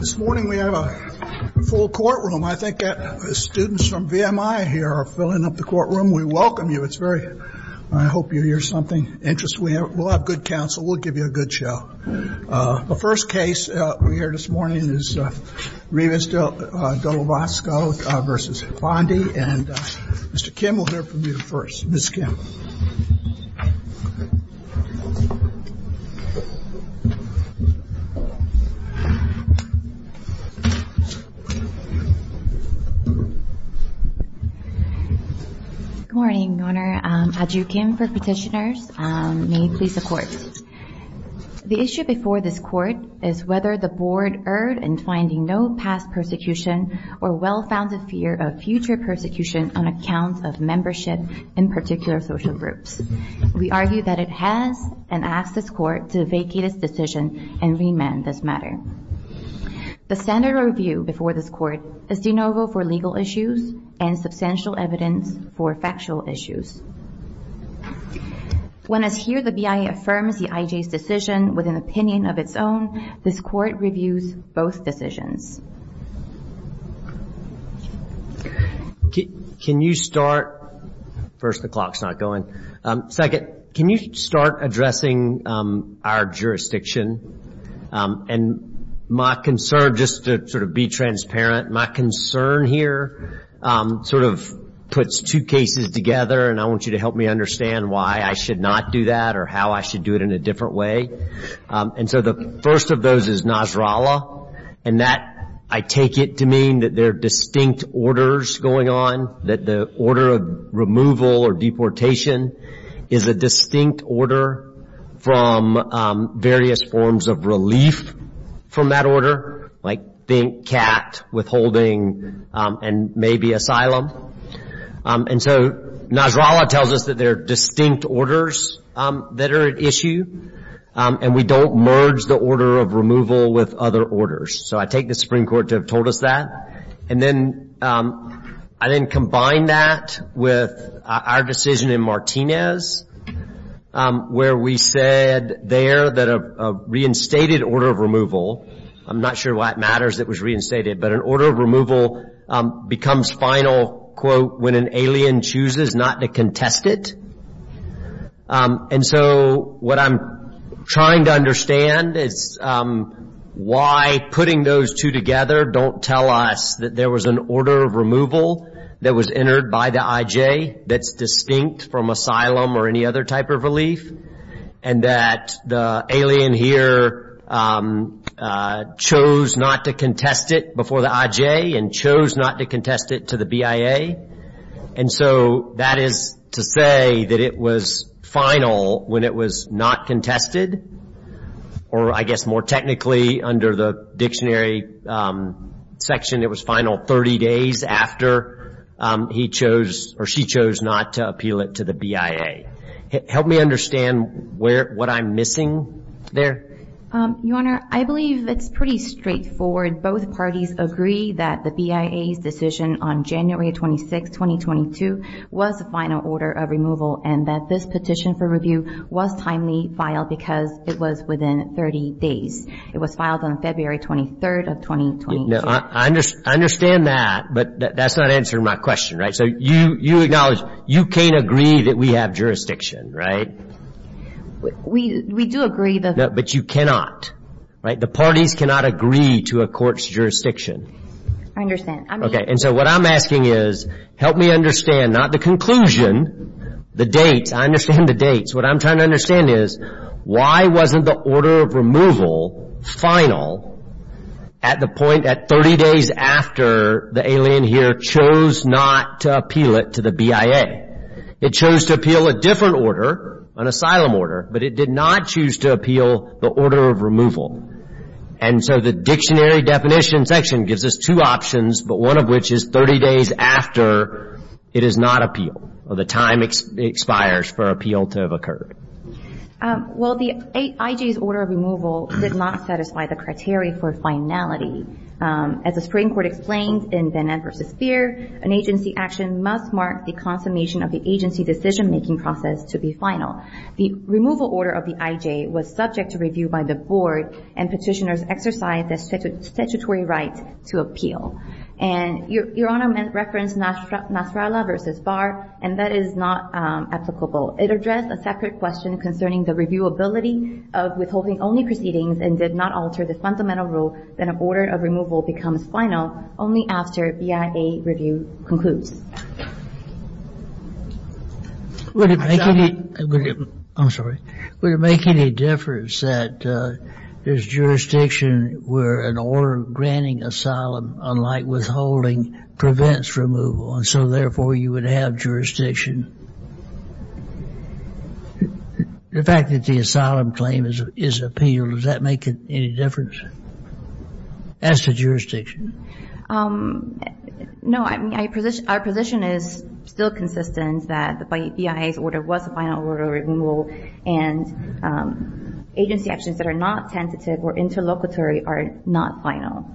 This morning we have a full courtroom. I think that the students from VMI here are filling up the courtroom. We welcome you. It's very I hope you hear something interesting. We'll have good counsel. We'll give you a good show. The first case we hear this morning is Rivas De Nolasco v. Bondi. And Mr. Kim will hear from you first. Ms. Kim. Good morning, Your Honor. Adju Kim for petitioners. May it please the Court. The issue before this Court is whether the Board erred in finding no past persecution or well-founded fear of future persecution on account of membership in particular social groups. We argue that it has and ask this Court to vacate its decision and remand this matter. The standard of review before this Court is de novo for legal issues and substantial evidence for factual issues. When as here the BIA affirms the IJ's decision with an opinion of its own, this Court reviews both decisions. Can you start addressing our jurisdiction? My concern here puts two cases together. I want you to help me understand why I should not do that or how I take it to mean that there are distinct orders going on, that the order of removal or deportation is a distinct order from various forms of relief from that order, like being capped, withholding, and maybe asylum. And so Nasrallah tells us that there are distinct orders that are at issue and we don't want to merge the order of removal with other orders. So I take the Supreme Court to have told us that. And then I then combine that with our decision in Martinez where we said there that a reinstated order of removal, I'm not sure why it matters it was reinstated, but an order of removal becomes final, quote, when an alien chooses not to contest it. And so what I'm trying to understand is why putting those two together don't tell us that there was an order of removal that was entered by the IJ that's distinct from asylum or any other type of relief and that the alien here chose not to contest it before the IJ and chose not to contest it to the BIA. And so that is to say that it was final when it was not contested, or I guess more technically under the dictionary section it was final 30 days after he chose or she chose not to appeal it to the BIA. Help me understand what I'm I believe it's pretty straightforward. Both parties agree that the BIA's decision on January 26, 2022 was the final order of removal and that this petition for review was timely filed because it was within 30 days. It was filed on February 23rd of 2022. I understand that, but that's not answering my question, right? So you acknowledge you can't agree that we have jurisdiction, right? We do agree. But you cannot, right? The parties cannot agree to a court's jurisdiction. I understand. And so what I'm asking is help me understand not the conclusion, the dates. I understand the dates. What I'm trying to understand is why wasn't the final at the point at 30 days after the alien here chose not to appeal it to the BIA? It chose to appeal a different order, an asylum order, but it did not choose to appeal the order of removal. And so the dictionary definition section gives us two options, but one of which is 30 days after it is not expires for appeal to have occurred. Well, the IJ's order of removal did not satisfy the criteria for finality. As the Supreme Court explained in Benet versus Feer, an agency action must mark the consummation of the agency decision-making process to be final. The removal order of the IJ was subject to review by the board, and petitioners exercised a statutory right to appeal. And Your Honor referenced Nasrallah versus Barr, and that is not applicable. It addressed a separate question concerning the reviewability of withholding-only proceedings and did not alter the fundamental rule that an order of removal becomes final only after BIA review concludes. Would it make any difference that there's jurisdiction where an order granting asylum, unlike withholding, prevents removal, and so therefore you would have jurisdiction? The fact that the asylum claim is appealed, does that make any difference as to jurisdiction? No. I mean, our position is still consistent that the BIA's order was a final order of removal, and agency actions that are not tentative or interlocutory are not final.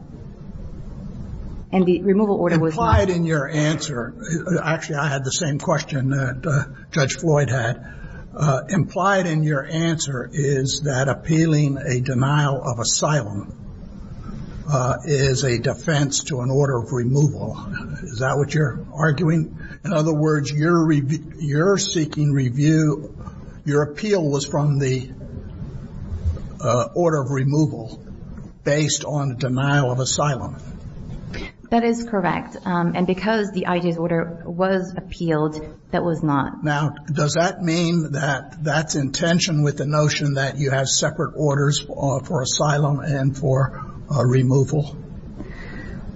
And the removal order was not- Implied in your answer-actually, I had the same question that Judge Floyd had. Implied in your answer is that appealing a denial of asylum is a defense to an order of removal. Is that what you're arguing? In other words, you're seeking review, your appeal was from the order of removal based on denial of asylum. That is correct. And because the IJ's order was appealed, that was not. Now, does that mean that that's in tension with the notion that you have separate orders for asylum and for removal?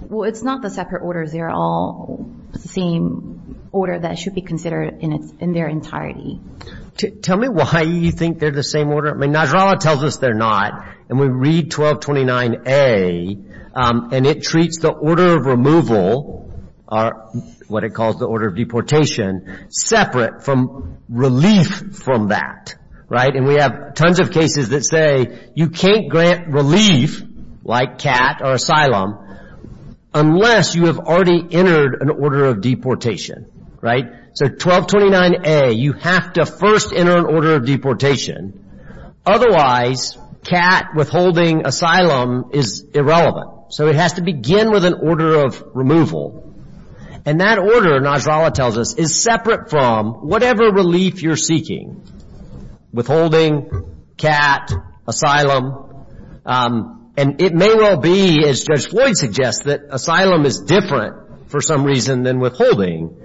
Well, it's not the separate orders. They're all the same order that should be considered in their entirety. Tell me why you think they're the same order. I mean, Najdrallah tells us they're not, and we read 1229A, and it treats the order of removal, what it calls the order of deportation, separate from relief from that. And we have tons of cases that say you can't grant relief, like CAT or asylum, unless you have already entered an order of deportation. So 1229A, you have to first enter an order of deportation. Otherwise, CAT withholding asylum is irrelevant. So it has to begin with an order of removal. And that order, Najdrallah tells us, is separate from whatever relief you're seeking. Withholding, CAT, asylum. And it may well be, as Judge Floyd suggests, that asylum is different for some reason than withholding.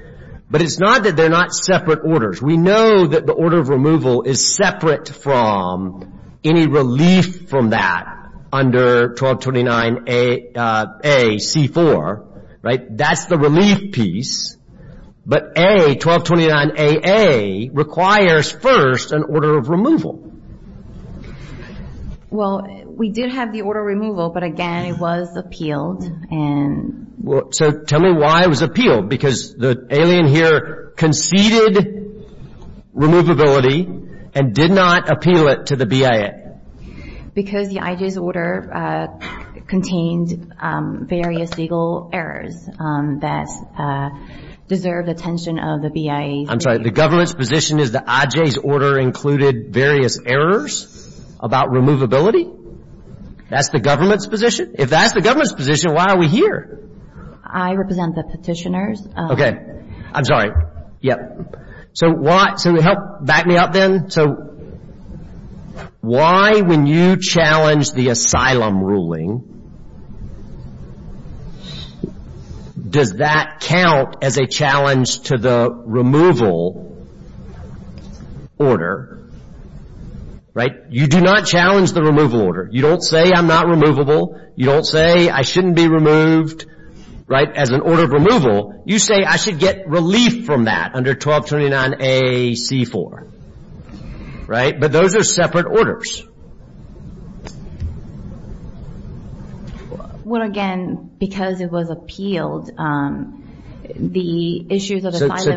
But it's not that they're not separate orders. We know that the order of removal is separate from any relief from that under 1229A, C-4, right? That's the relief piece. But A, 1229AA, requires first an order of removal. Well, we did have the order of removal, but again, it was appealed. So tell me why it was appealed. Because the alien here conceded removability and did not appeal it to the BIA. Because the IJ's order contained various legal errors that deserve the attention of the BIA. I'm sorry. The government's position is the IJ's order included various errors about removability? That's the government's position? If that's the government's position, why are we here? I represent the petitioners. Okay. I'm sorry. Yep. So help back me up then. So why, when you challenge the asylum ruling, does that count as a challenge to the removal order? Right? You do not challenge the removal order. You don't say I'm not removable. You don't say I shouldn't be removed, right, as an order of removal. You say I should get relief from that under 1229A, C-4, right? But those are separate orders. Well, again, because it was appealed, the issues of asylum... which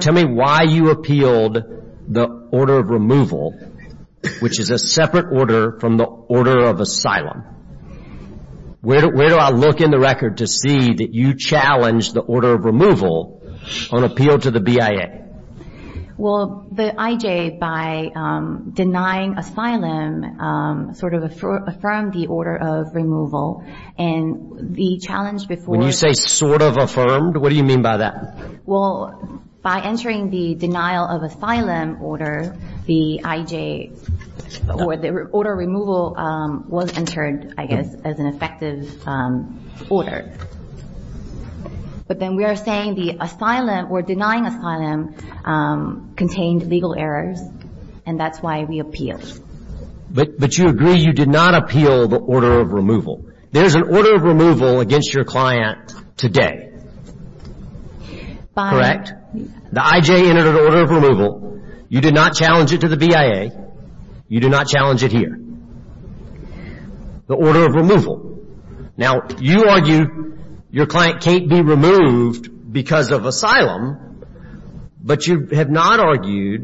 is a separate order from the order of asylum. Where do I look in the record to see that you challenged the order of removal on appeal to the BIA? Well, the IJ, by denying asylum, sort of affirmed the order of removal. And the challenge before... When you say sort of affirmed, what do you mean by that? Well, by entering the denial of asylum order, the IJ or the order of removal was entered, I guess, as an effective order. But then we are saying the asylum or denying asylum contained legal errors, and that's why we appealed. But you agree you did not appeal the order of removal. There is an order of removal against your client today. The IJ entered an order of removal. You did not challenge it to the BIA. You did not challenge it here. The order of removal. Now, you argue your client can't be removed because of asylum. But you have not argued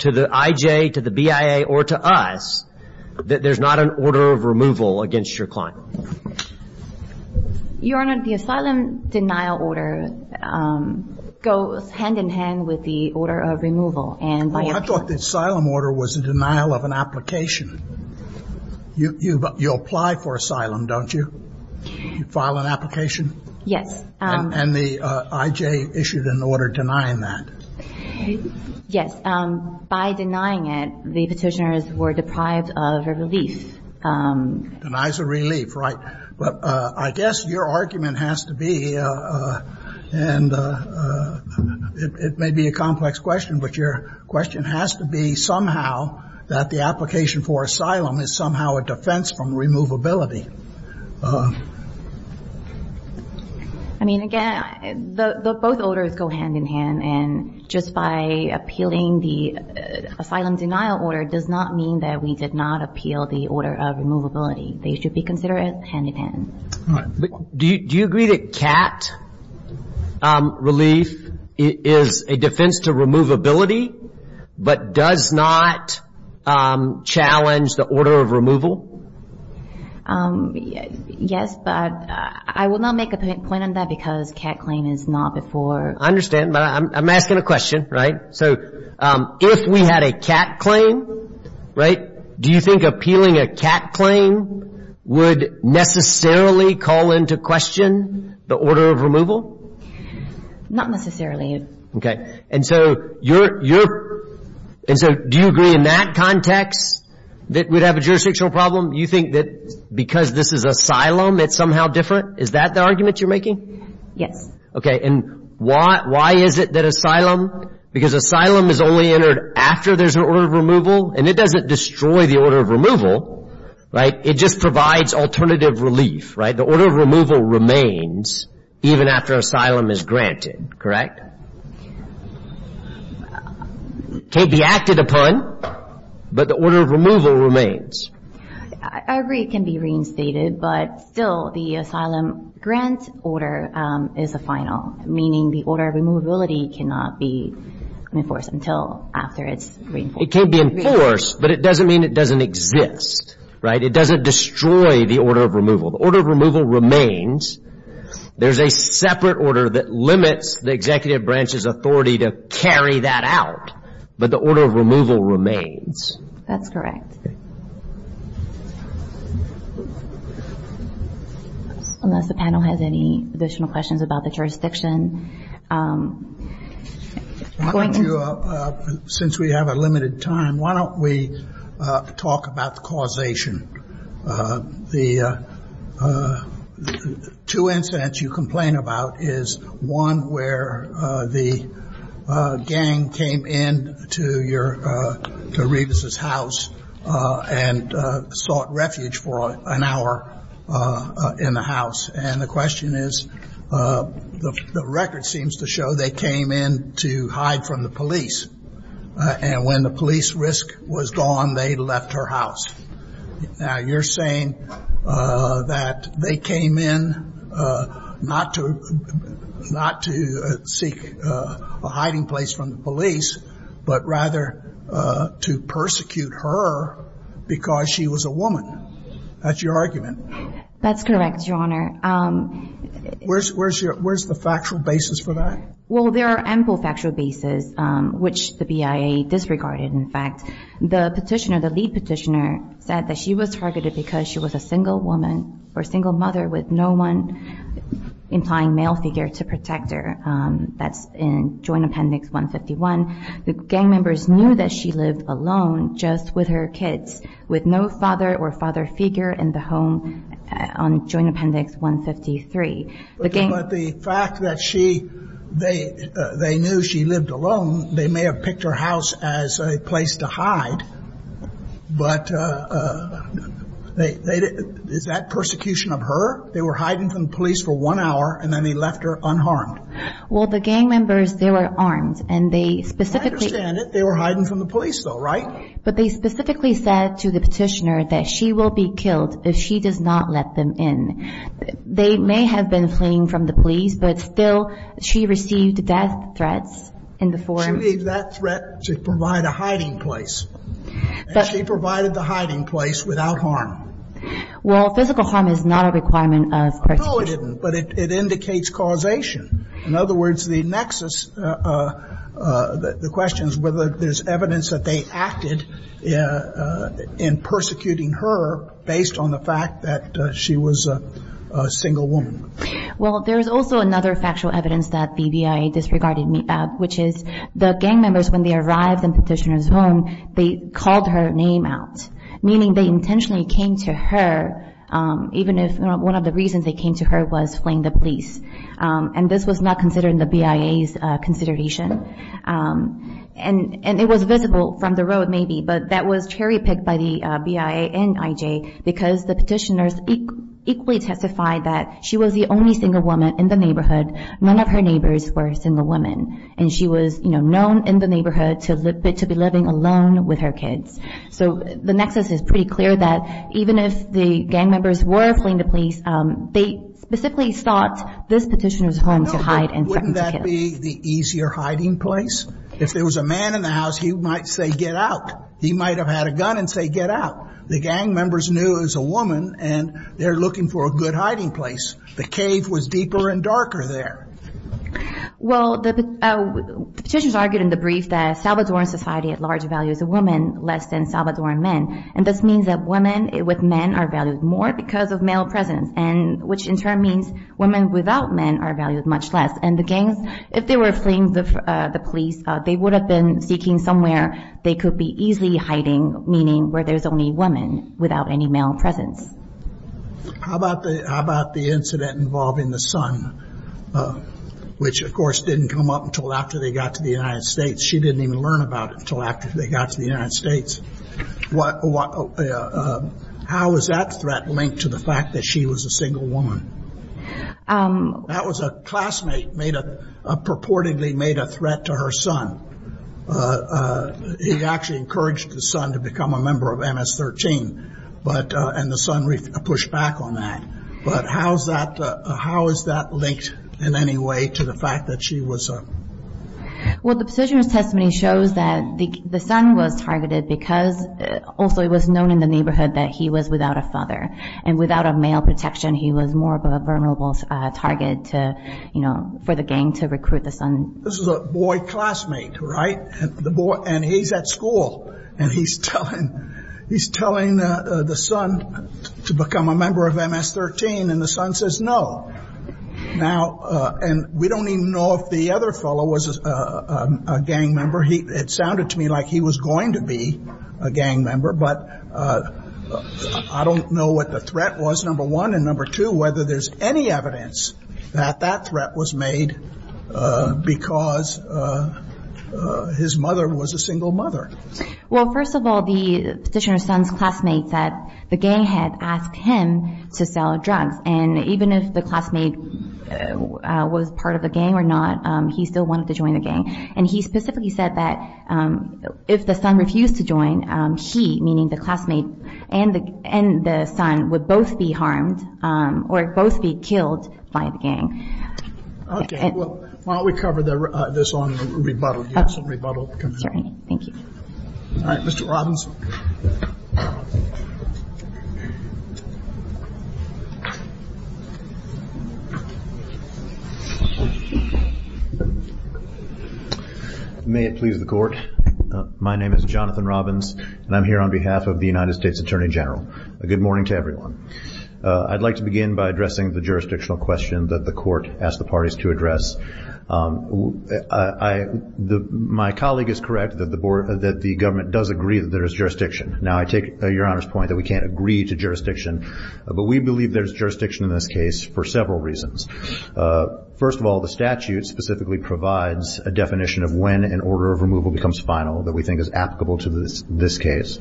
to the IJ, to the BIA, or to us that there's not an order of removal against your client. Your Honor, the asylum denial order goes hand in hand with the order of removal. I thought the asylum order was a denial of an application. You apply for asylum, don't you? You file an application? Yes. And the IJ issued an order denying that. Yes. By denying it, the Petitioners were deprived of a relief. Denies a relief, right. But I guess your argument has to be, and it may be a complex question, but your question has to be somehow that the application for asylum is somehow a defense from removability. I mean, again, both orders go hand in hand. And just by appealing the asylum denial order does not mean that we did not appeal the order of removability. They should be considered hand in hand. All right. Do you agree that CAT relief is a defense to removability but does not challenge the order of removal? Yes, but I will not make a point on that because CAT claim is not before. I understand, but I'm asking a question, right. So if we had a CAT claim, right, do you think appealing a CAT claim would necessarily call into question the order of removal? Not necessarily. Okay. And so do you agree in that context that we'd have a jurisdictional problem? Do you think that because this is asylum it's somehow different? Is that the argument you're making? Yes. Okay. And why is it that asylum, because asylum is only entered after there's an order of removal and it doesn't destroy the order of removal, right. It just provides alternative relief, right. The order of removal remains even after asylum is granted, correct? It can't be acted upon, but the order of removal remains. I agree it can be reinstated, but still the asylum grant order is a final, meaning the order of removability cannot be enforced until after it's reinforced. It can be enforced, but it doesn't mean it doesn't exist, right. It doesn't destroy the order of removal. The order of removal remains. There's a separate order that limits the executive branch's authority to carry that out, but the order of removal remains. That's correct. Unless the panel has any additional questions about the jurisdiction. Since we have a limited time, why don't we talk about the causation. The two incidents you complain about is one where the gang came in to your, to Revis's house and sought refuge for an hour in the house. And the question is, the record seems to show they came in to hide from the police. And when the police risk was gone, they left her house. Now you're saying that they came in not to seek a hiding place from the police, but rather to persecute her because she was a woman. That's your argument. That's correct, Your Honor. Where's the factual basis for that? Well, there are ample factual basis, which the BIA disregarded, in fact. The petitioner, the lead petitioner, said that she was targeted because she was a single woman or single mother with no one implying male figure to protect her. That's in Joint Appendix 151. The gang members knew that she lived alone just with her kids, with no father or father figure in the home on Joint Appendix 153. But the fact that she, they knew she lived alone, they may have picked her house as a place to hide, but is that persecution of her? They were hiding from the police for one hour and then they left her unharmed. Well, the gang members, they were armed, and they specifically – I understand it. They were hiding from the police, though, right? But they specifically said to the petitioner that she will be killed if she does not let them in. They may have been fleeing from the police, but still she received death threats in the form – She received that threat to provide a hiding place, and she provided the hiding place without harm. Well, physical harm is not a requirement of persecution. No, it isn't, but it indicates causation. In other words, the nexus, the question is whether there's evidence that they acted in persecuting her based on the fact that she was a single woman. Well, there is also another factual evidence that the BIA disregarded, which is the gang members, when they arrived in the petitioner's home, they called her name out, meaning they intentionally came to her, even if one of the reasons they came to her was fleeing the police. And this was not considered in the BIA's consideration. And it was visible from the road, maybe, but that was cherry-picked by the BIA and IJ, because the petitioners equally testified that she was the only single woman in the neighborhood. None of her neighbors were single women, and she was known in the neighborhood to be living alone with her kids. So the nexus is pretty clear that even if the gang members were fleeing the police, they specifically thought this petitioner's home to hide and threaten to kill. No, but wouldn't that be the easier hiding place? If there was a man in the house, he might say, get out. He might have had a gun and say, get out. The gang members knew it was a woman, and they're looking for a good hiding place. The cave was deeper and darker there. Well, the petitioners argued in the brief that Salvadoran society at large values a woman less than Salvadoran men. And this means that women with men are valued more because of male presence, which in turn means women without men are valued much less. And the gangs, if they were fleeing the police, they would have been seeking somewhere they could be easily hiding, meaning where there's only women without any male presence. How about the incident involving the son, which, of course, didn't come up until after they got to the United States. She didn't even learn about it until after they got to the United States. How was that threat linked to the fact that she was a single woman? That was a classmate purportedly made a threat to her son. He actually encouraged his son to become a member of MS-13, and the son pushed back on that. But how is that linked in any way to the fact that she was a? Well, the petitioner's testimony shows that the son was targeted because, also, it was known in the neighborhood that he was without a father. And without a male protection, he was more of a vulnerable target to, you know, for the gang to recruit the son. This is a boy classmate, right? And he's at school, and he's telling the son to become a member of MS-13. And the son says no. And we don't even know if the other fellow was a gang member. It sounded to me like he was going to be a gang member, but I don't know what the threat was, number one. And number two, whether there's any evidence that that threat was made because his mother was a single mother. Well, first of all, the petitioner's son's classmate said the gang had asked him to sell drugs. And even if the classmate was part of the gang or not, he still wanted to join the gang. And he specifically said that if the son refused to join, he, meaning the classmate, and the son would both be harmed or both be killed by the gang. Well, why don't we cover this on rebuttal? Yes, on rebuttal. Thank you. All right, Mr. Robbins. May it please the Court. My name is Jonathan Robbins, and I'm here on behalf of the United States Attorney General. A good morning to everyone. I'd like to begin by addressing the jurisdictional question that the Court asked the parties to address. My colleague is correct that the government does agree that there is jurisdiction. Now, I take Your Honor's point that we can't agree to jurisdiction. But we believe there's jurisdiction in this case for several reasons. First of all, the statute specifically provides a definition of when an order of removal becomes final that we think is applicable to this case.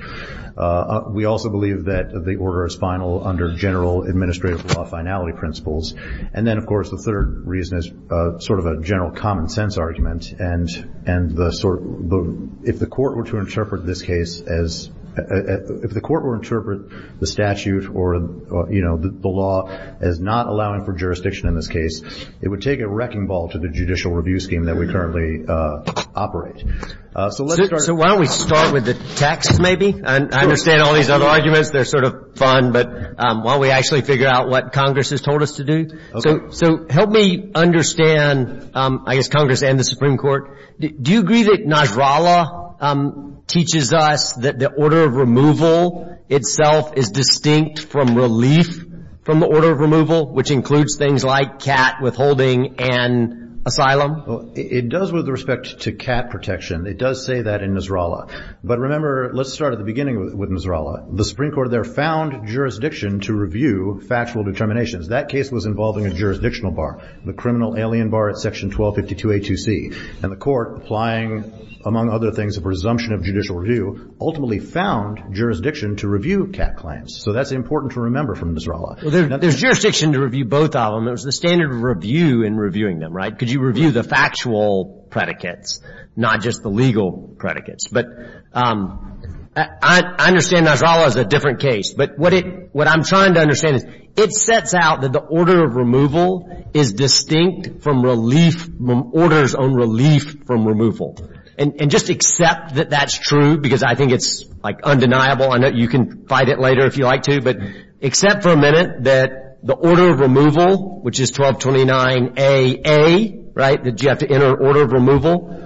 We also believe that the order is final under general administrative law finality principles. And then, of course, the third reason is sort of a general common sense argument. And if the Court were to interpret this case as the statute or, you know, the law as not allowing for jurisdiction in this case, it would take a wrecking ball to the judicial review scheme that we currently operate. So let's start. So why don't we start with the text maybe? I understand all these other arguments. They're sort of fun, but why don't we actually figure out what Congress has told us to do? So help me understand, I guess, Congress and the Supreme Court. Do you agree that Nasrallah teaches us that the order of removal itself is distinct from relief from the order of removal, which includes things like cat withholding and asylum? It does with respect to cat protection. It does say that in Nasrallah. But remember, let's start at the beginning with Nasrallah. The Supreme Court there found jurisdiction to review factual determinations. That case was involving a jurisdictional bar, the criminal alien bar at Section 1252A2C. And the Court, applying, among other things, a presumption of judicial review, ultimately found jurisdiction to review cat claims. So that's important to remember from Nasrallah. Well, there's jurisdiction to review both of them. There's the standard of review in reviewing them, right? Because you review the factual predicates, not just the legal predicates. But I understand Nasrallah is a different case. But what I'm trying to understand is it sets out that the order of removal is distinct from orders on relief from removal. And just accept that that's true because I think it's undeniable. I know you can fight it later if you like to. But accept for a minute that the order of removal, which is 1229AA, right, that you have to enter an order of removal,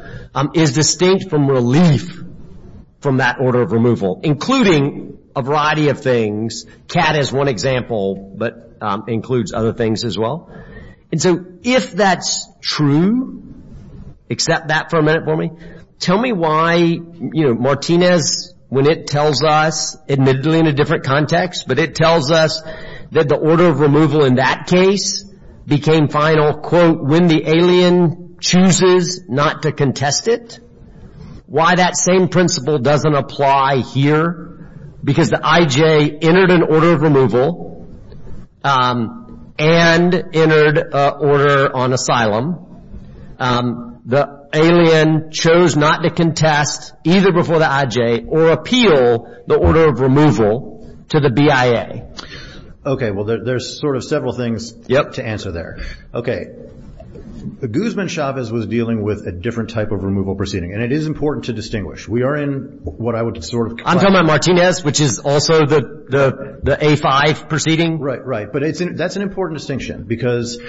is distinct from relief from that order of removal, including a variety of things. Cat is one example, but includes other things as well. And so if that's true, accept that for a minute for me. Tell me why, you know, Martinez, when it tells us, admittedly in a different context, but it tells us that the order of removal in that case became final, quote, when the alien chooses not to contest it, why that same principle doesn't apply here? Because the IJ entered an order of removal and entered an order on asylum. The alien chose not to contest either before the IJ or appeal the order of removal to the BIA. Okay. Well, there's sort of several things to answer there. Guzman-Chavez was dealing with a different type of removal proceeding, and it is important to distinguish. We are in what I would sort of classify as- I'm talking about Martinez, which is also the A5 proceeding. Right, right. But that's an important distinction because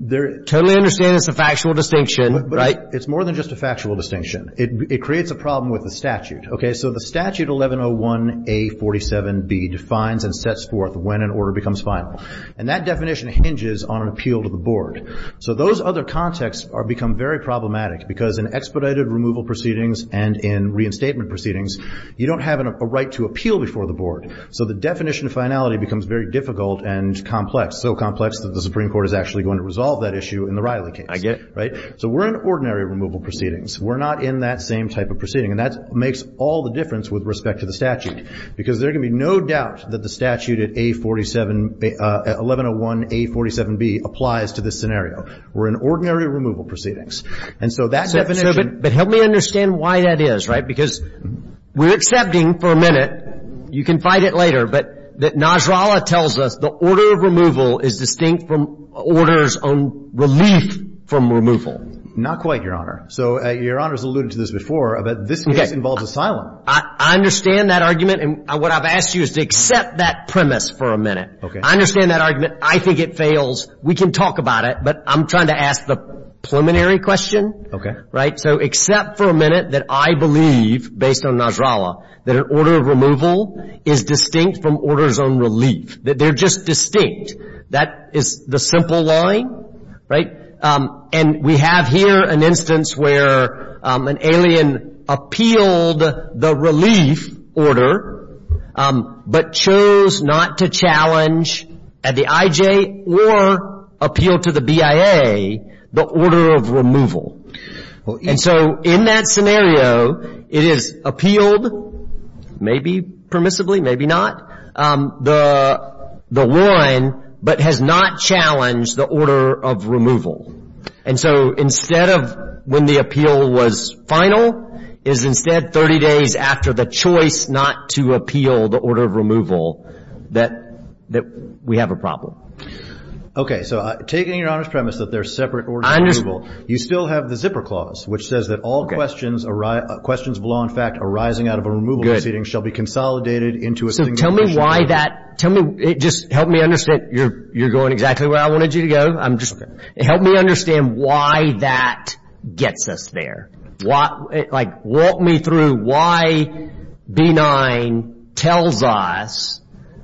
there- Totally understand it's a factual distinction, right? It's more than just a factual distinction. It creates a problem with the statute. Okay, so the statute 1101A47B defines and sets forth when an order becomes final. And that definition hinges on an appeal to the board. So those other contexts become very problematic because in expedited removal proceedings and in reinstatement proceedings, you don't have a right to appeal before the board. So the definition of finality becomes very difficult and complex, so complex that the Supreme Court is actually going to resolve that issue in the Riley case. I get it. Right? So we're in ordinary removal proceedings. We're not in that same type of proceeding. And that makes all the difference with respect to the statute because there can be no doubt that the statute at A47- 1101A47B applies to this scenario. We're in ordinary removal proceedings. And so that definition- But help me understand why that is, right? Because we're accepting for a minute, you can fight it later, but that Najrallah tells us the order of removal is distinct from orders on relief from removal. Not quite, Your Honor. So Your Honor's alluded to this before, but this case involves asylum. I understand that argument. And what I've asked you is to accept that premise for a minute. Okay. I understand that argument. I think it fails. We can talk about it. But I'm trying to ask the preliminary question. Okay. Right? So accept for a minute that I believe, based on Najrallah, that an order of removal is distinct from orders on relief. That they're just distinct. That is the simple line. Right? And we have here an instance where an alien appealed the relief order but chose not to challenge at the IJ or appeal to the BIA the order of removal. And so in that scenario, it is appealed, maybe permissibly, maybe not, the one but has not challenged the order of removal. And so instead of when the appeal was final, is instead 30 days after the choice not to appeal the order of removal that we have a problem. Okay. So taking your Honor's premise that they're separate orders of removal, you still have the zipper clause, which says that all questions of law in fact arising out of a removal proceeding shall be consolidated into a single issue. So tell me why that, just help me understand. You're going exactly where I wanted you to go. Help me understand why that gets us there. Like, walk me through why B-9 tells us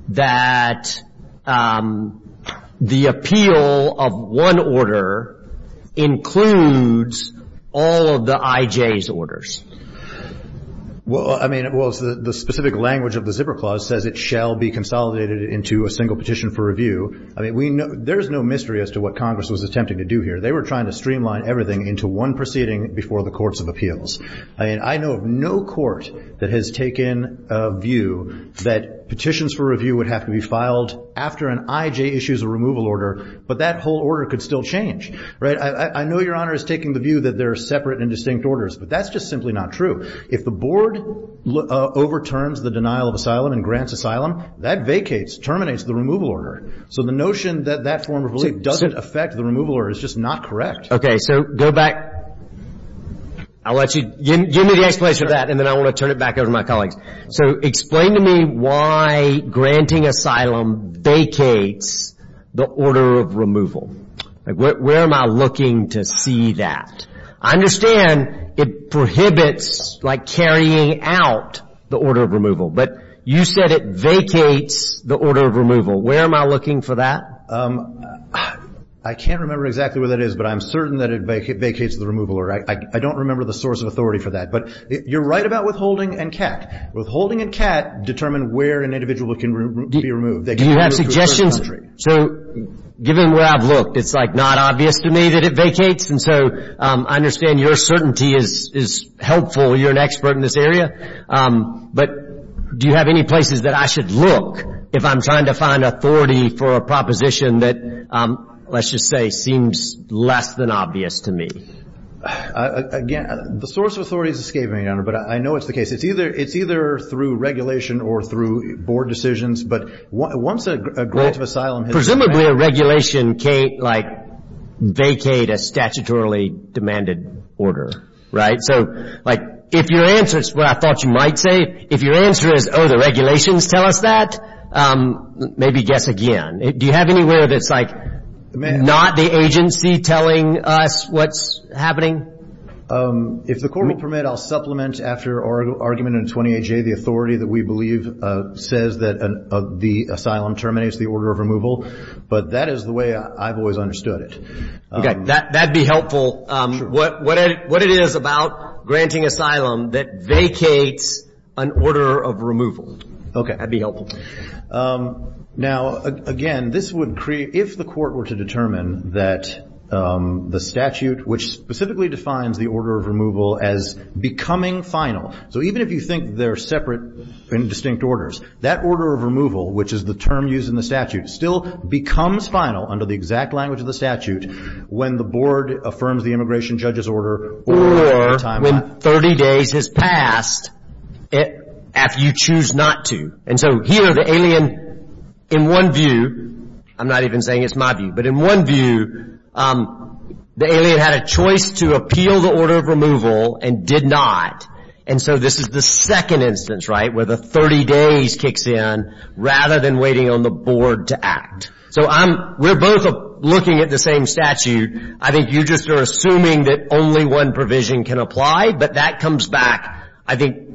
that the appeal of one order includes all of the IJ's orders. Well, I mean, the specific language of the zipper clause says it shall be consolidated into a single petition for review. I mean, there is no mystery as to what Congress was attempting to do here. They were trying to streamline everything into one proceeding before the courts of appeals. I mean, I know of no court that has taken a view that petitions for review would have to be filed after an IJ issues a removal order, but that whole order could still change. Right? I know your Honor is taking the view that they're separate and distinct orders, but that's just simply not true. If the board overturns the denial of asylum and grants asylum, that vacates, terminates the removal order. So the notion that that form of relief doesn't affect the removal order is just not correct. Okay, so go back. I'll let you, give me the explanation of that, and then I want to turn it back over to my colleagues. So explain to me why granting asylum vacates the order of removal. Like, where am I looking to see that? I understand it prohibits, like, carrying out the order of removal, but you said it vacates the order of removal. Where am I looking for that? I can't remember exactly where that is, but I'm certain that it vacates the removal order. I don't remember the source of authority for that. But you're right about withholding and CAT. Withholding and CAT determine where an individual can be removed. Do you have suggestions? So given where I've looked, it's, like, not obvious to me that it vacates, and so I understand your certainty is helpful. You're an expert in this area. But do you have any places that I should look if I'm trying to find authority for a proposition that, let's just say, seems less than obvious to me? Again, the source of authority is escaping me, Your Honor, but I know it's the case. It's either through regulation or through board decisions, but once a grant of asylum has been granted. Presumably a regulation, like, vacate a statutorily demanded order, right? So, like, if your answer is what I thought you might say, if your answer is, oh, the regulations tell us that, maybe guess again. Do you have anywhere that's, like, not the agency telling us what's happening? If the Court will permit, I'll supplement after argument in 28J the authority that we believe says that the asylum terminates the order of removal. But that is the way I've always understood it. Okay. That would be helpful. What it is about granting asylum that vacates an order of removal. Okay. That would be helpful. Now, again, this would create, if the Court were to determine that the statute, which specifically defines the order of removal as becoming final. So even if you think they're separate and distinct orders, that order of removal, which is the term used in the statute, still becomes final under the exact language of the statute when the Board affirms the immigration judge's order. Or when 30 days has passed, if you choose not to. And so here the alien, in one view, I'm not even saying it's my view, but in one view, the alien had a choice to appeal the order of removal and did not. And so this is the second instance, right, where the 30 days kicks in rather than waiting on the Board to act. So I'm, we're both looking at the same statute. I think you just are assuming that only one provision can apply. But that comes back, I think,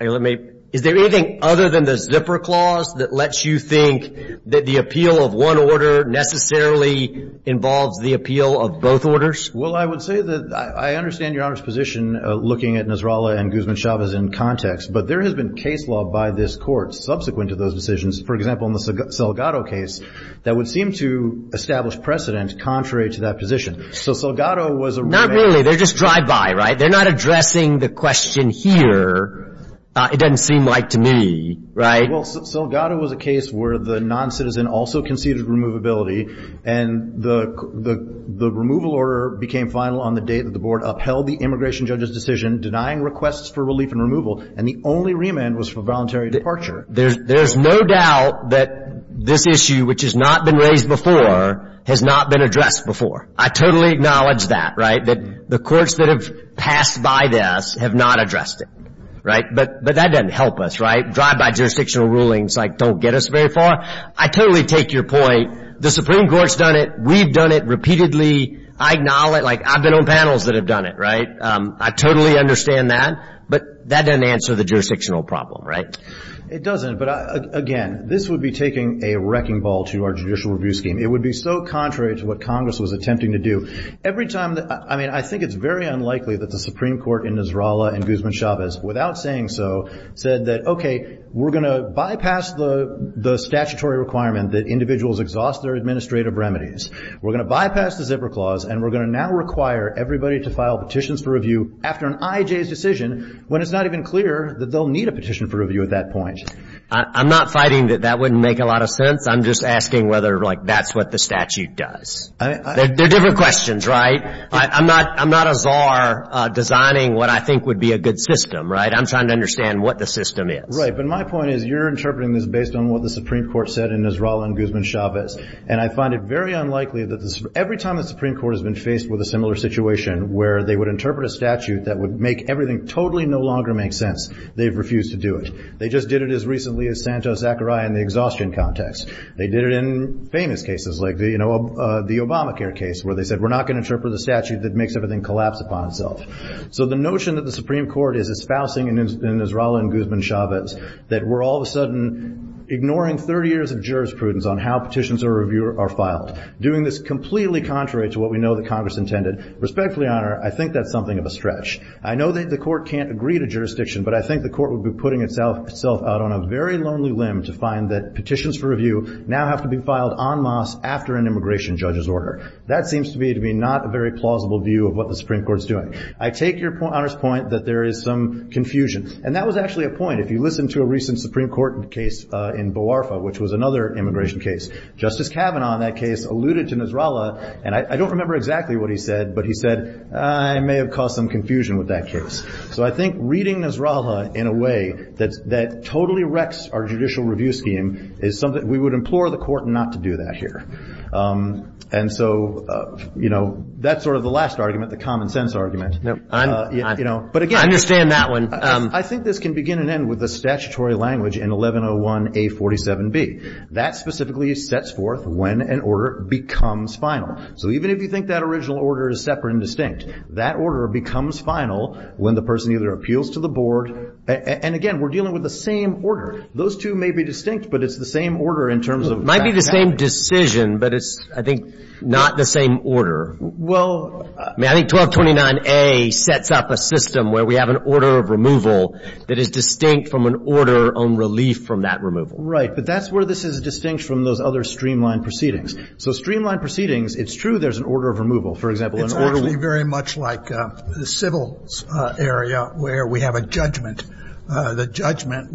let me, is there anything other than the zipper clause that lets you think that the appeal of one order necessarily involves the appeal of both orders? Well, I would say that I understand Your Honor's position looking at Nasrallah and Guzman-Chavez in context. But there has been case law by this Court subsequent to those decisions, for example, in the Salgado case, that would seem to establish precedent contrary to that position. So Salgado was a road map. Not really. They're just drive-by, right? They're not addressing the question here. It doesn't seem like to me, right? Well, Salgado was a case where the non-citizen also conceded removability. And the removal order became final on the date that the Board upheld the immigration judge's decision denying requests for relief and removal. And the only remand was for voluntary departure. There's no doubt that this issue, which has not been raised before, has not been addressed before. I totally acknowledge that, right, that the courts that have passed by this have not addressed it, right? But that doesn't help us, right? Drive-by jurisdictional rulings, like, don't get us very far. I totally take your point. The Supreme Court's done it. We've done it repeatedly. I acknowledge it. Like, I've been on panels that have done it, right? I totally understand that. But that doesn't answer the jurisdictional problem, right? It doesn't. But, again, this would be taking a wrecking ball to our judicial review scheme. It would be so contrary to what Congress was attempting to do. I mean, I think it's very unlikely that the Supreme Court in Nasrallah and Guzman-Chavez, without saying so, said that, okay, we're going to bypass the statutory requirement that individuals exhaust their administrative remedies. We're going to bypass the zipper clause, and we're going to now require everybody to file petitions for review after an IJ's decision when it's not even clear that they'll need a petition for review at that point. I'm not fighting that that wouldn't make a lot of sense. I'm just asking whether, like, that's what the statute does. They're different questions, right? I'm not a czar designing what I think would be a good system, right? I'm trying to understand what the system is. Right. But my point is you're interpreting this based on what the Supreme Court said in Nasrallah and Guzman-Chavez. And I find it very unlikely that every time the Supreme Court has been faced with a similar situation where they would interpret a statute that would make everything totally no longer make sense, they've refused to do it. They just did it as recently as Santos-Zachariah in the exhaustion context. They did it in famous cases like the Obamacare case where they said we're not going to interpret a statute that makes everything collapse upon itself. So the notion that the Supreme Court is espousing in Nasrallah and Guzman-Chavez that we're all of a sudden ignoring 30 years of jurisprudence on how petitions are reviewed or filed, doing this completely contrary to what we know that Congress intended, respectfully, Honor, I think that's something of a stretch. I know that the Court can't agree to jurisdiction, but I think the Court would be putting itself out on a very lonely limb to find that petitions for review now have to be filed en masse after an immigration judge's order. That seems to me to be not a very plausible view of what the Supreme Court is doing. I take your Honor's point that there is some confusion. And that was actually a point. If you listen to a recent Supreme Court case in Bo'arfa, which was another immigration case, Justice Kavanaugh in that case alluded to Nasrallah, and I don't remember exactly what he said, but he said, I may have caused some confusion with that case. So I think reading Nasrallah in a way that totally wrecks our judicial review scheme is something we would implore the Court not to do that here. And so, you know, that's sort of the last argument, the common sense argument. I understand that one. I think this can begin and end with a statutory language in 1101A47B. That specifically sets forth when an order becomes final. So even if you think that original order is separate and distinct, that order becomes final when the person either appeals to the board and, again, we're dealing with the same order. Those two may be distinct, but it's the same order in terms of that. Might be the same decision, but it's, I think, not the same order. Well. I mean, I think 1229A sets up a system where we have an order of removal that is distinct from an order on relief from that removal. Right. But that's where this is distinct from those other streamlined proceedings. So streamlined proceedings, it's true there's an order of removal. For example, an order of removal. It's actually very much like the civil area where we have a judgment. The judgment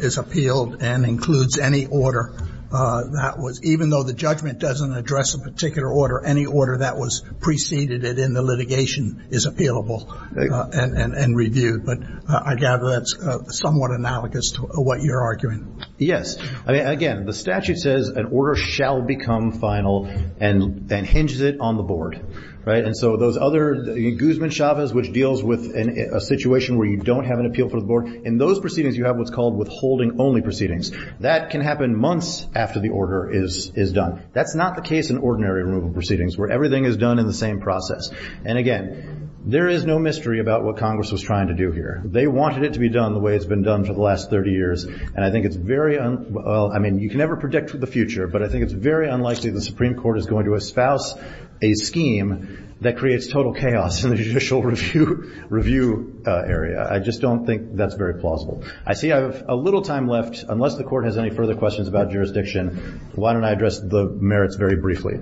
is appealed and includes any order that was, even though the judgment doesn't address a particular order, any order that was preceded it in the litigation is appealable and reviewed. But I gather that's somewhat analogous to what you're arguing. Yes. I mean, again, the statute says an order shall become final and hinges it on the board. And so those other, Guzman-Chavez, which deals with a situation where you don't have an appeal for the board, in those proceedings you have what's called withholding only proceedings. That can happen months after the order is done. That's not the case in ordinary removal proceedings where everything is done in the same process. And, again, there is no mystery about what Congress was trying to do here. They wanted it to be done the way it's been done for the last 30 years, and I think it's very, well, I mean, you can never predict the future, but I think it's very unlikely the Supreme Court is going to espouse a scheme that creates total chaos in the judicial review area. I just don't think that's very plausible. I see I have a little time left. Unless the Court has any further questions about jurisdiction, why don't I address the merits very briefly.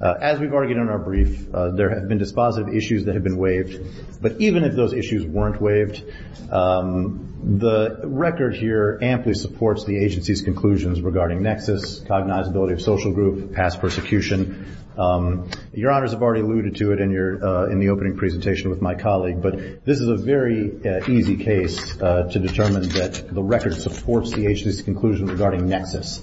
As we've argued in our brief, there have been dispositive issues that have been waived. But even if those issues weren't waived, the record here amply supports the agency's conclusions regarding nexus, cognizability of social group, past persecution. Your Honors have already alluded to it in the opening presentation with my colleague, but this is a very easy case to determine that the record supports the agency's conclusion regarding nexus.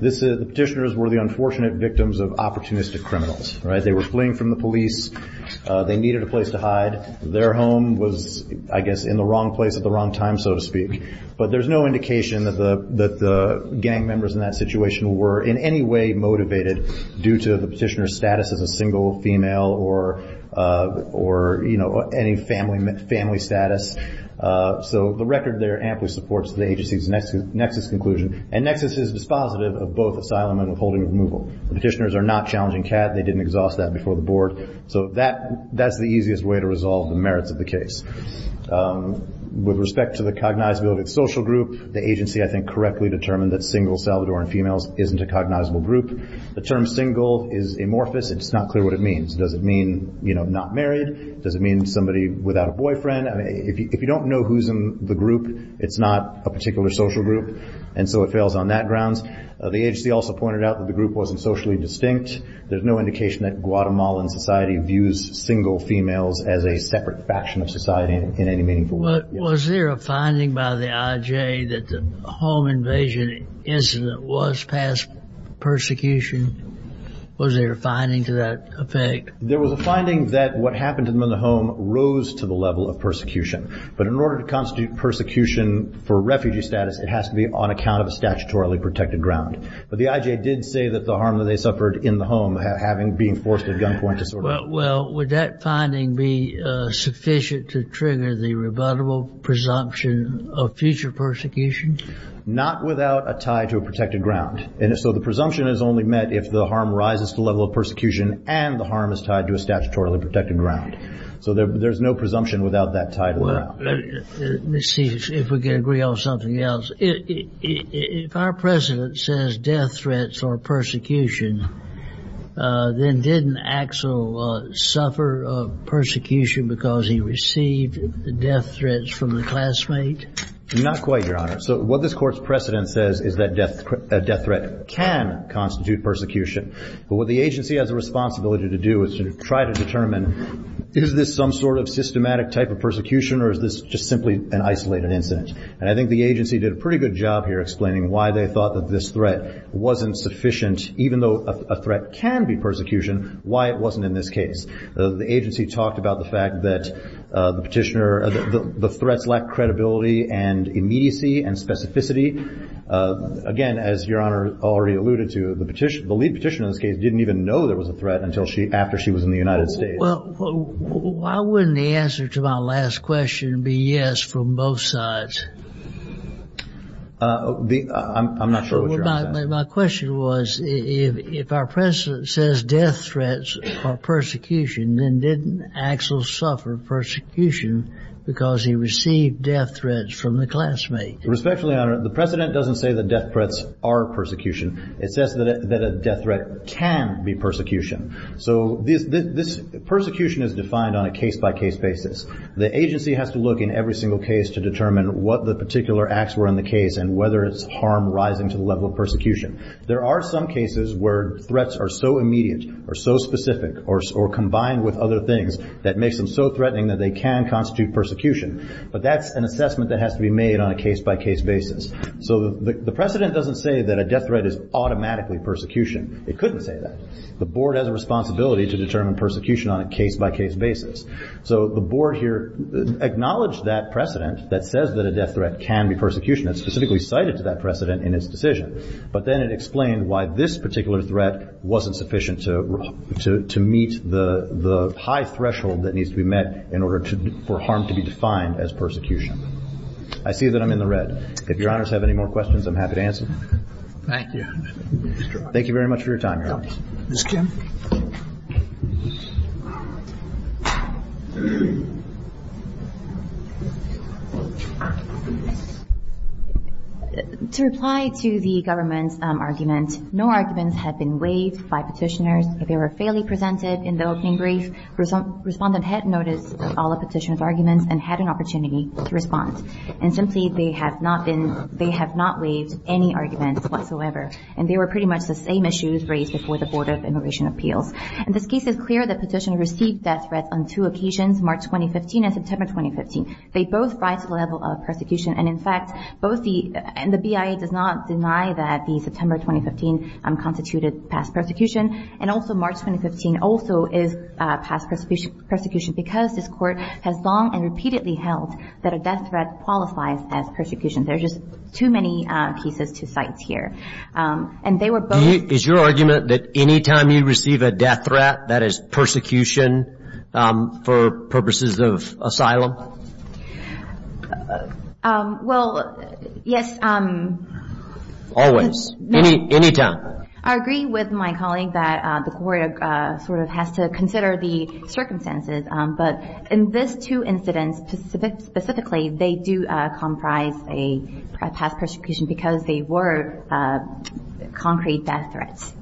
The petitioners were the unfortunate victims of opportunistic criminals. They were fleeing from the police. They needed a place to hide. Their home was, I guess, in the wrong place at the wrong time, so to speak. But there's no indication that the gang members in that situation were in any way motivated due to the petitioner's status as a single female or any family status. So the record there amply supports the agency's nexus conclusion, and nexus is dispositive of both asylum and withholding removal. Petitioners are not challenging CAD. They didn't exhaust that before the board. So that's the easiest way to resolve the merits of the case. With respect to the cognizability of social group, the agency, I think, correctly determined that single Salvadoran females isn't a cognizable group. The term single is amorphous. It's not clear what it means. Does it mean not married? Does it mean somebody without a boyfriend? If you don't know who's in the group, it's not a particular social group, and so it fails on that grounds. The agency also pointed out that the group wasn't socially distinct. There's no indication that Guatemalan society views single females as a separate faction of society in any meaningful way. Was there a finding by the IJ that the home invasion incident was past persecution? Was there a finding to that effect? There was a finding that what happened to them in the home rose to the level of persecution. But in order to constitute persecution for refugee status, it has to be on account of a statutorily protected ground. But the IJ did say that the harm that they suffered in the home having being forced at gunpoint to sort of – Well, would that finding be sufficient to trigger the rebuttable presumption of future persecution? Not without a tie to a protected ground. And so the presumption is only met if the harm rises to the level of persecution and the harm is tied to a statutorily protected ground. So there's no presumption without that tie to it. Let's see if we can agree on something else. If our precedent says death threats or persecution, then didn't Axel suffer persecution because he received death threats from a classmate? Not quite, Your Honor. So what this Court's precedent says is that a death threat can constitute persecution. But what the agency has a responsibility to do is to try to determine, is this some sort of systematic type of persecution or is this just simply an isolated incident? And I think the agency did a pretty good job here explaining why they thought that this threat wasn't sufficient, even though a threat can be persecution, why it wasn't in this case. The agency talked about the fact that the petitioner – the threats lack credibility and immediacy and specificity. Again, as Your Honor already alluded to, the lead petitioner in this case didn't even know there was a threat after she was in the United States. Well, why wouldn't the answer to my last question be yes from both sides? I'm not sure what you're asking. My question was if our precedent says death threats or persecution, then didn't Axel suffer persecution because he received death threats from a classmate? Respectfully, Your Honor, the precedent doesn't say that death threats are persecution. It says that a death threat can be persecution. So this persecution is defined on a case-by-case basis. The agency has to look in every single case to determine what the particular acts were in the case and whether it's harm rising to the level of persecution. There are some cases where threats are so immediate or so specific or combined with other things that makes them so threatening that they can constitute persecution. But that's an assessment that has to be made on a case-by-case basis. So the precedent doesn't say that a death threat is automatically persecution. It couldn't say that. The Board has a responsibility to determine persecution on a case-by-case basis. So the Board here acknowledged that precedent that says that a death threat can be persecution. It specifically cited that precedent in its decision. But then it explained why this particular threat wasn't sufficient to meet the high threshold that needs to be met in order for harm to be defined as persecution. I see that I'm in the red. If Your Honors have any more questions, I'm happy to answer them. Thank you. Thank you very much for your time, Your Honors. Ms. Kim. To reply to the government's argument, no arguments had been waived by petitioners. They were fairly presented in the opening brief. Respondent had noticed all the petitioners' arguments and had an opportunity to respond. And simply, they have not waived any arguments whatsoever. And they were pretty much the same issues raised before the Board of Immigration Appeals. And this case is clear that petitioners received death threats on two occasions, March 2015 and September 2015. They both rise to the level of persecution. And in fact, both the BIA does not deny that the September 2015 constituted past persecution. And also, March 2015 also is past persecution because this Court has long and repeatedly held that a death threat qualifies as persecution. There are just too many cases to cite here. And they were both. Is your argument that any time you receive a death threat, that is persecution for purposes of asylum? Well, yes. Always. Any time. I agree with my colleague that the Court sort of has to consider the circumstances. But in these two incidents specifically, they do comprise a past persecution because they were concrete death threats.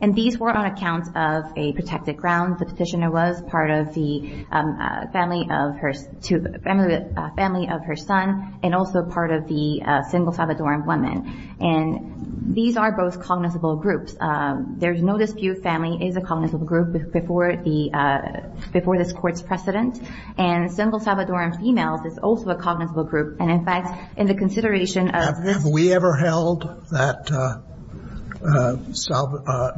And these were on account of a protected ground. The petitioner was part of the family of her son and also part of the single Salvadoran woman. And these are both cognizable groups. There's no dispute family is a cognizable group before this Court's precedent. And single Salvadoran females is also a cognizable group. And in fact, in the consideration of this ---- Have we ever held that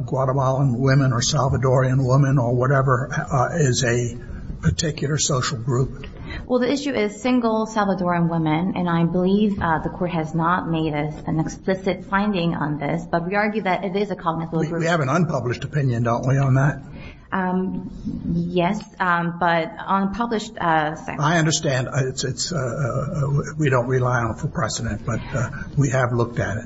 Guatemalan women or Salvadoran women or whatever is a particular social group? Well, the issue is single Salvadoran women. And I believe the Court has not made an explicit finding on this. But we argue that it is a cognizable group. We have an unpublished opinion, don't we, on that? Yes. But unpublished ---- I understand. We don't rely on it for precedent. But we have looked at it.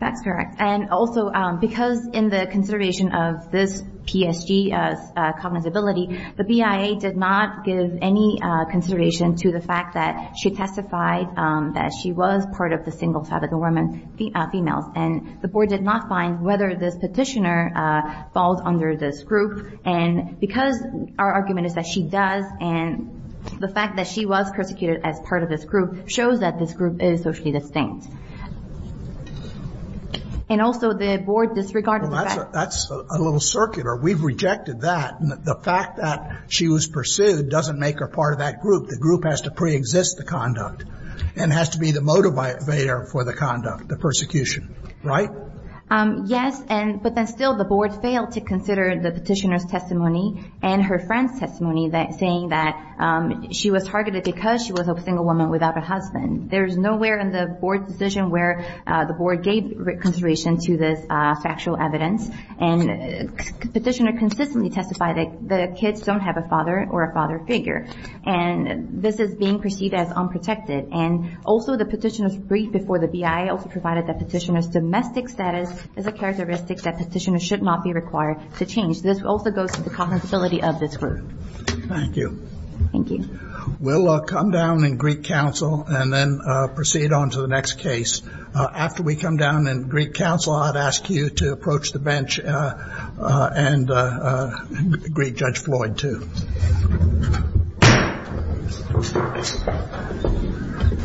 That's correct. And also because in the consideration of this PSG cognizability, the BIA did not give any consideration to the fact that she testified that she was part of the single Salvadoran females. And the Board did not find whether this petitioner falls under this group. And because our argument is that she does and the fact that she was persecuted as part of this group shows that this group is socially distinct. And also the Board disregarded the fact ---- Well, that's a little circular. We've rejected that. The fact that she was pursued doesn't make her part of that group. The group has to preexist the conduct and has to be the motivator for the conduct, the persecution. Right? Yes. But then still the Board failed to consider the petitioner's testimony and her friend's testimony, saying that she was targeted because she was a single woman without a husband. There is nowhere in the Board's decision where the Board gave consideration to this factual evidence. And the petitioner consistently testified that the kids don't have a father or a father figure. And this is being perceived as unprotected. And also the petitioner's brief before the BIA also provided that petitioner's domestic status is a characteristic that petitioners should not be required to change. This also goes to the cognizability of this group. Thank you. Thank you. We'll come down in Greek Council and then proceed on to the next case. After we come down in Greek Council, I'd ask you to approach the bench and Greek Judge Floyd too.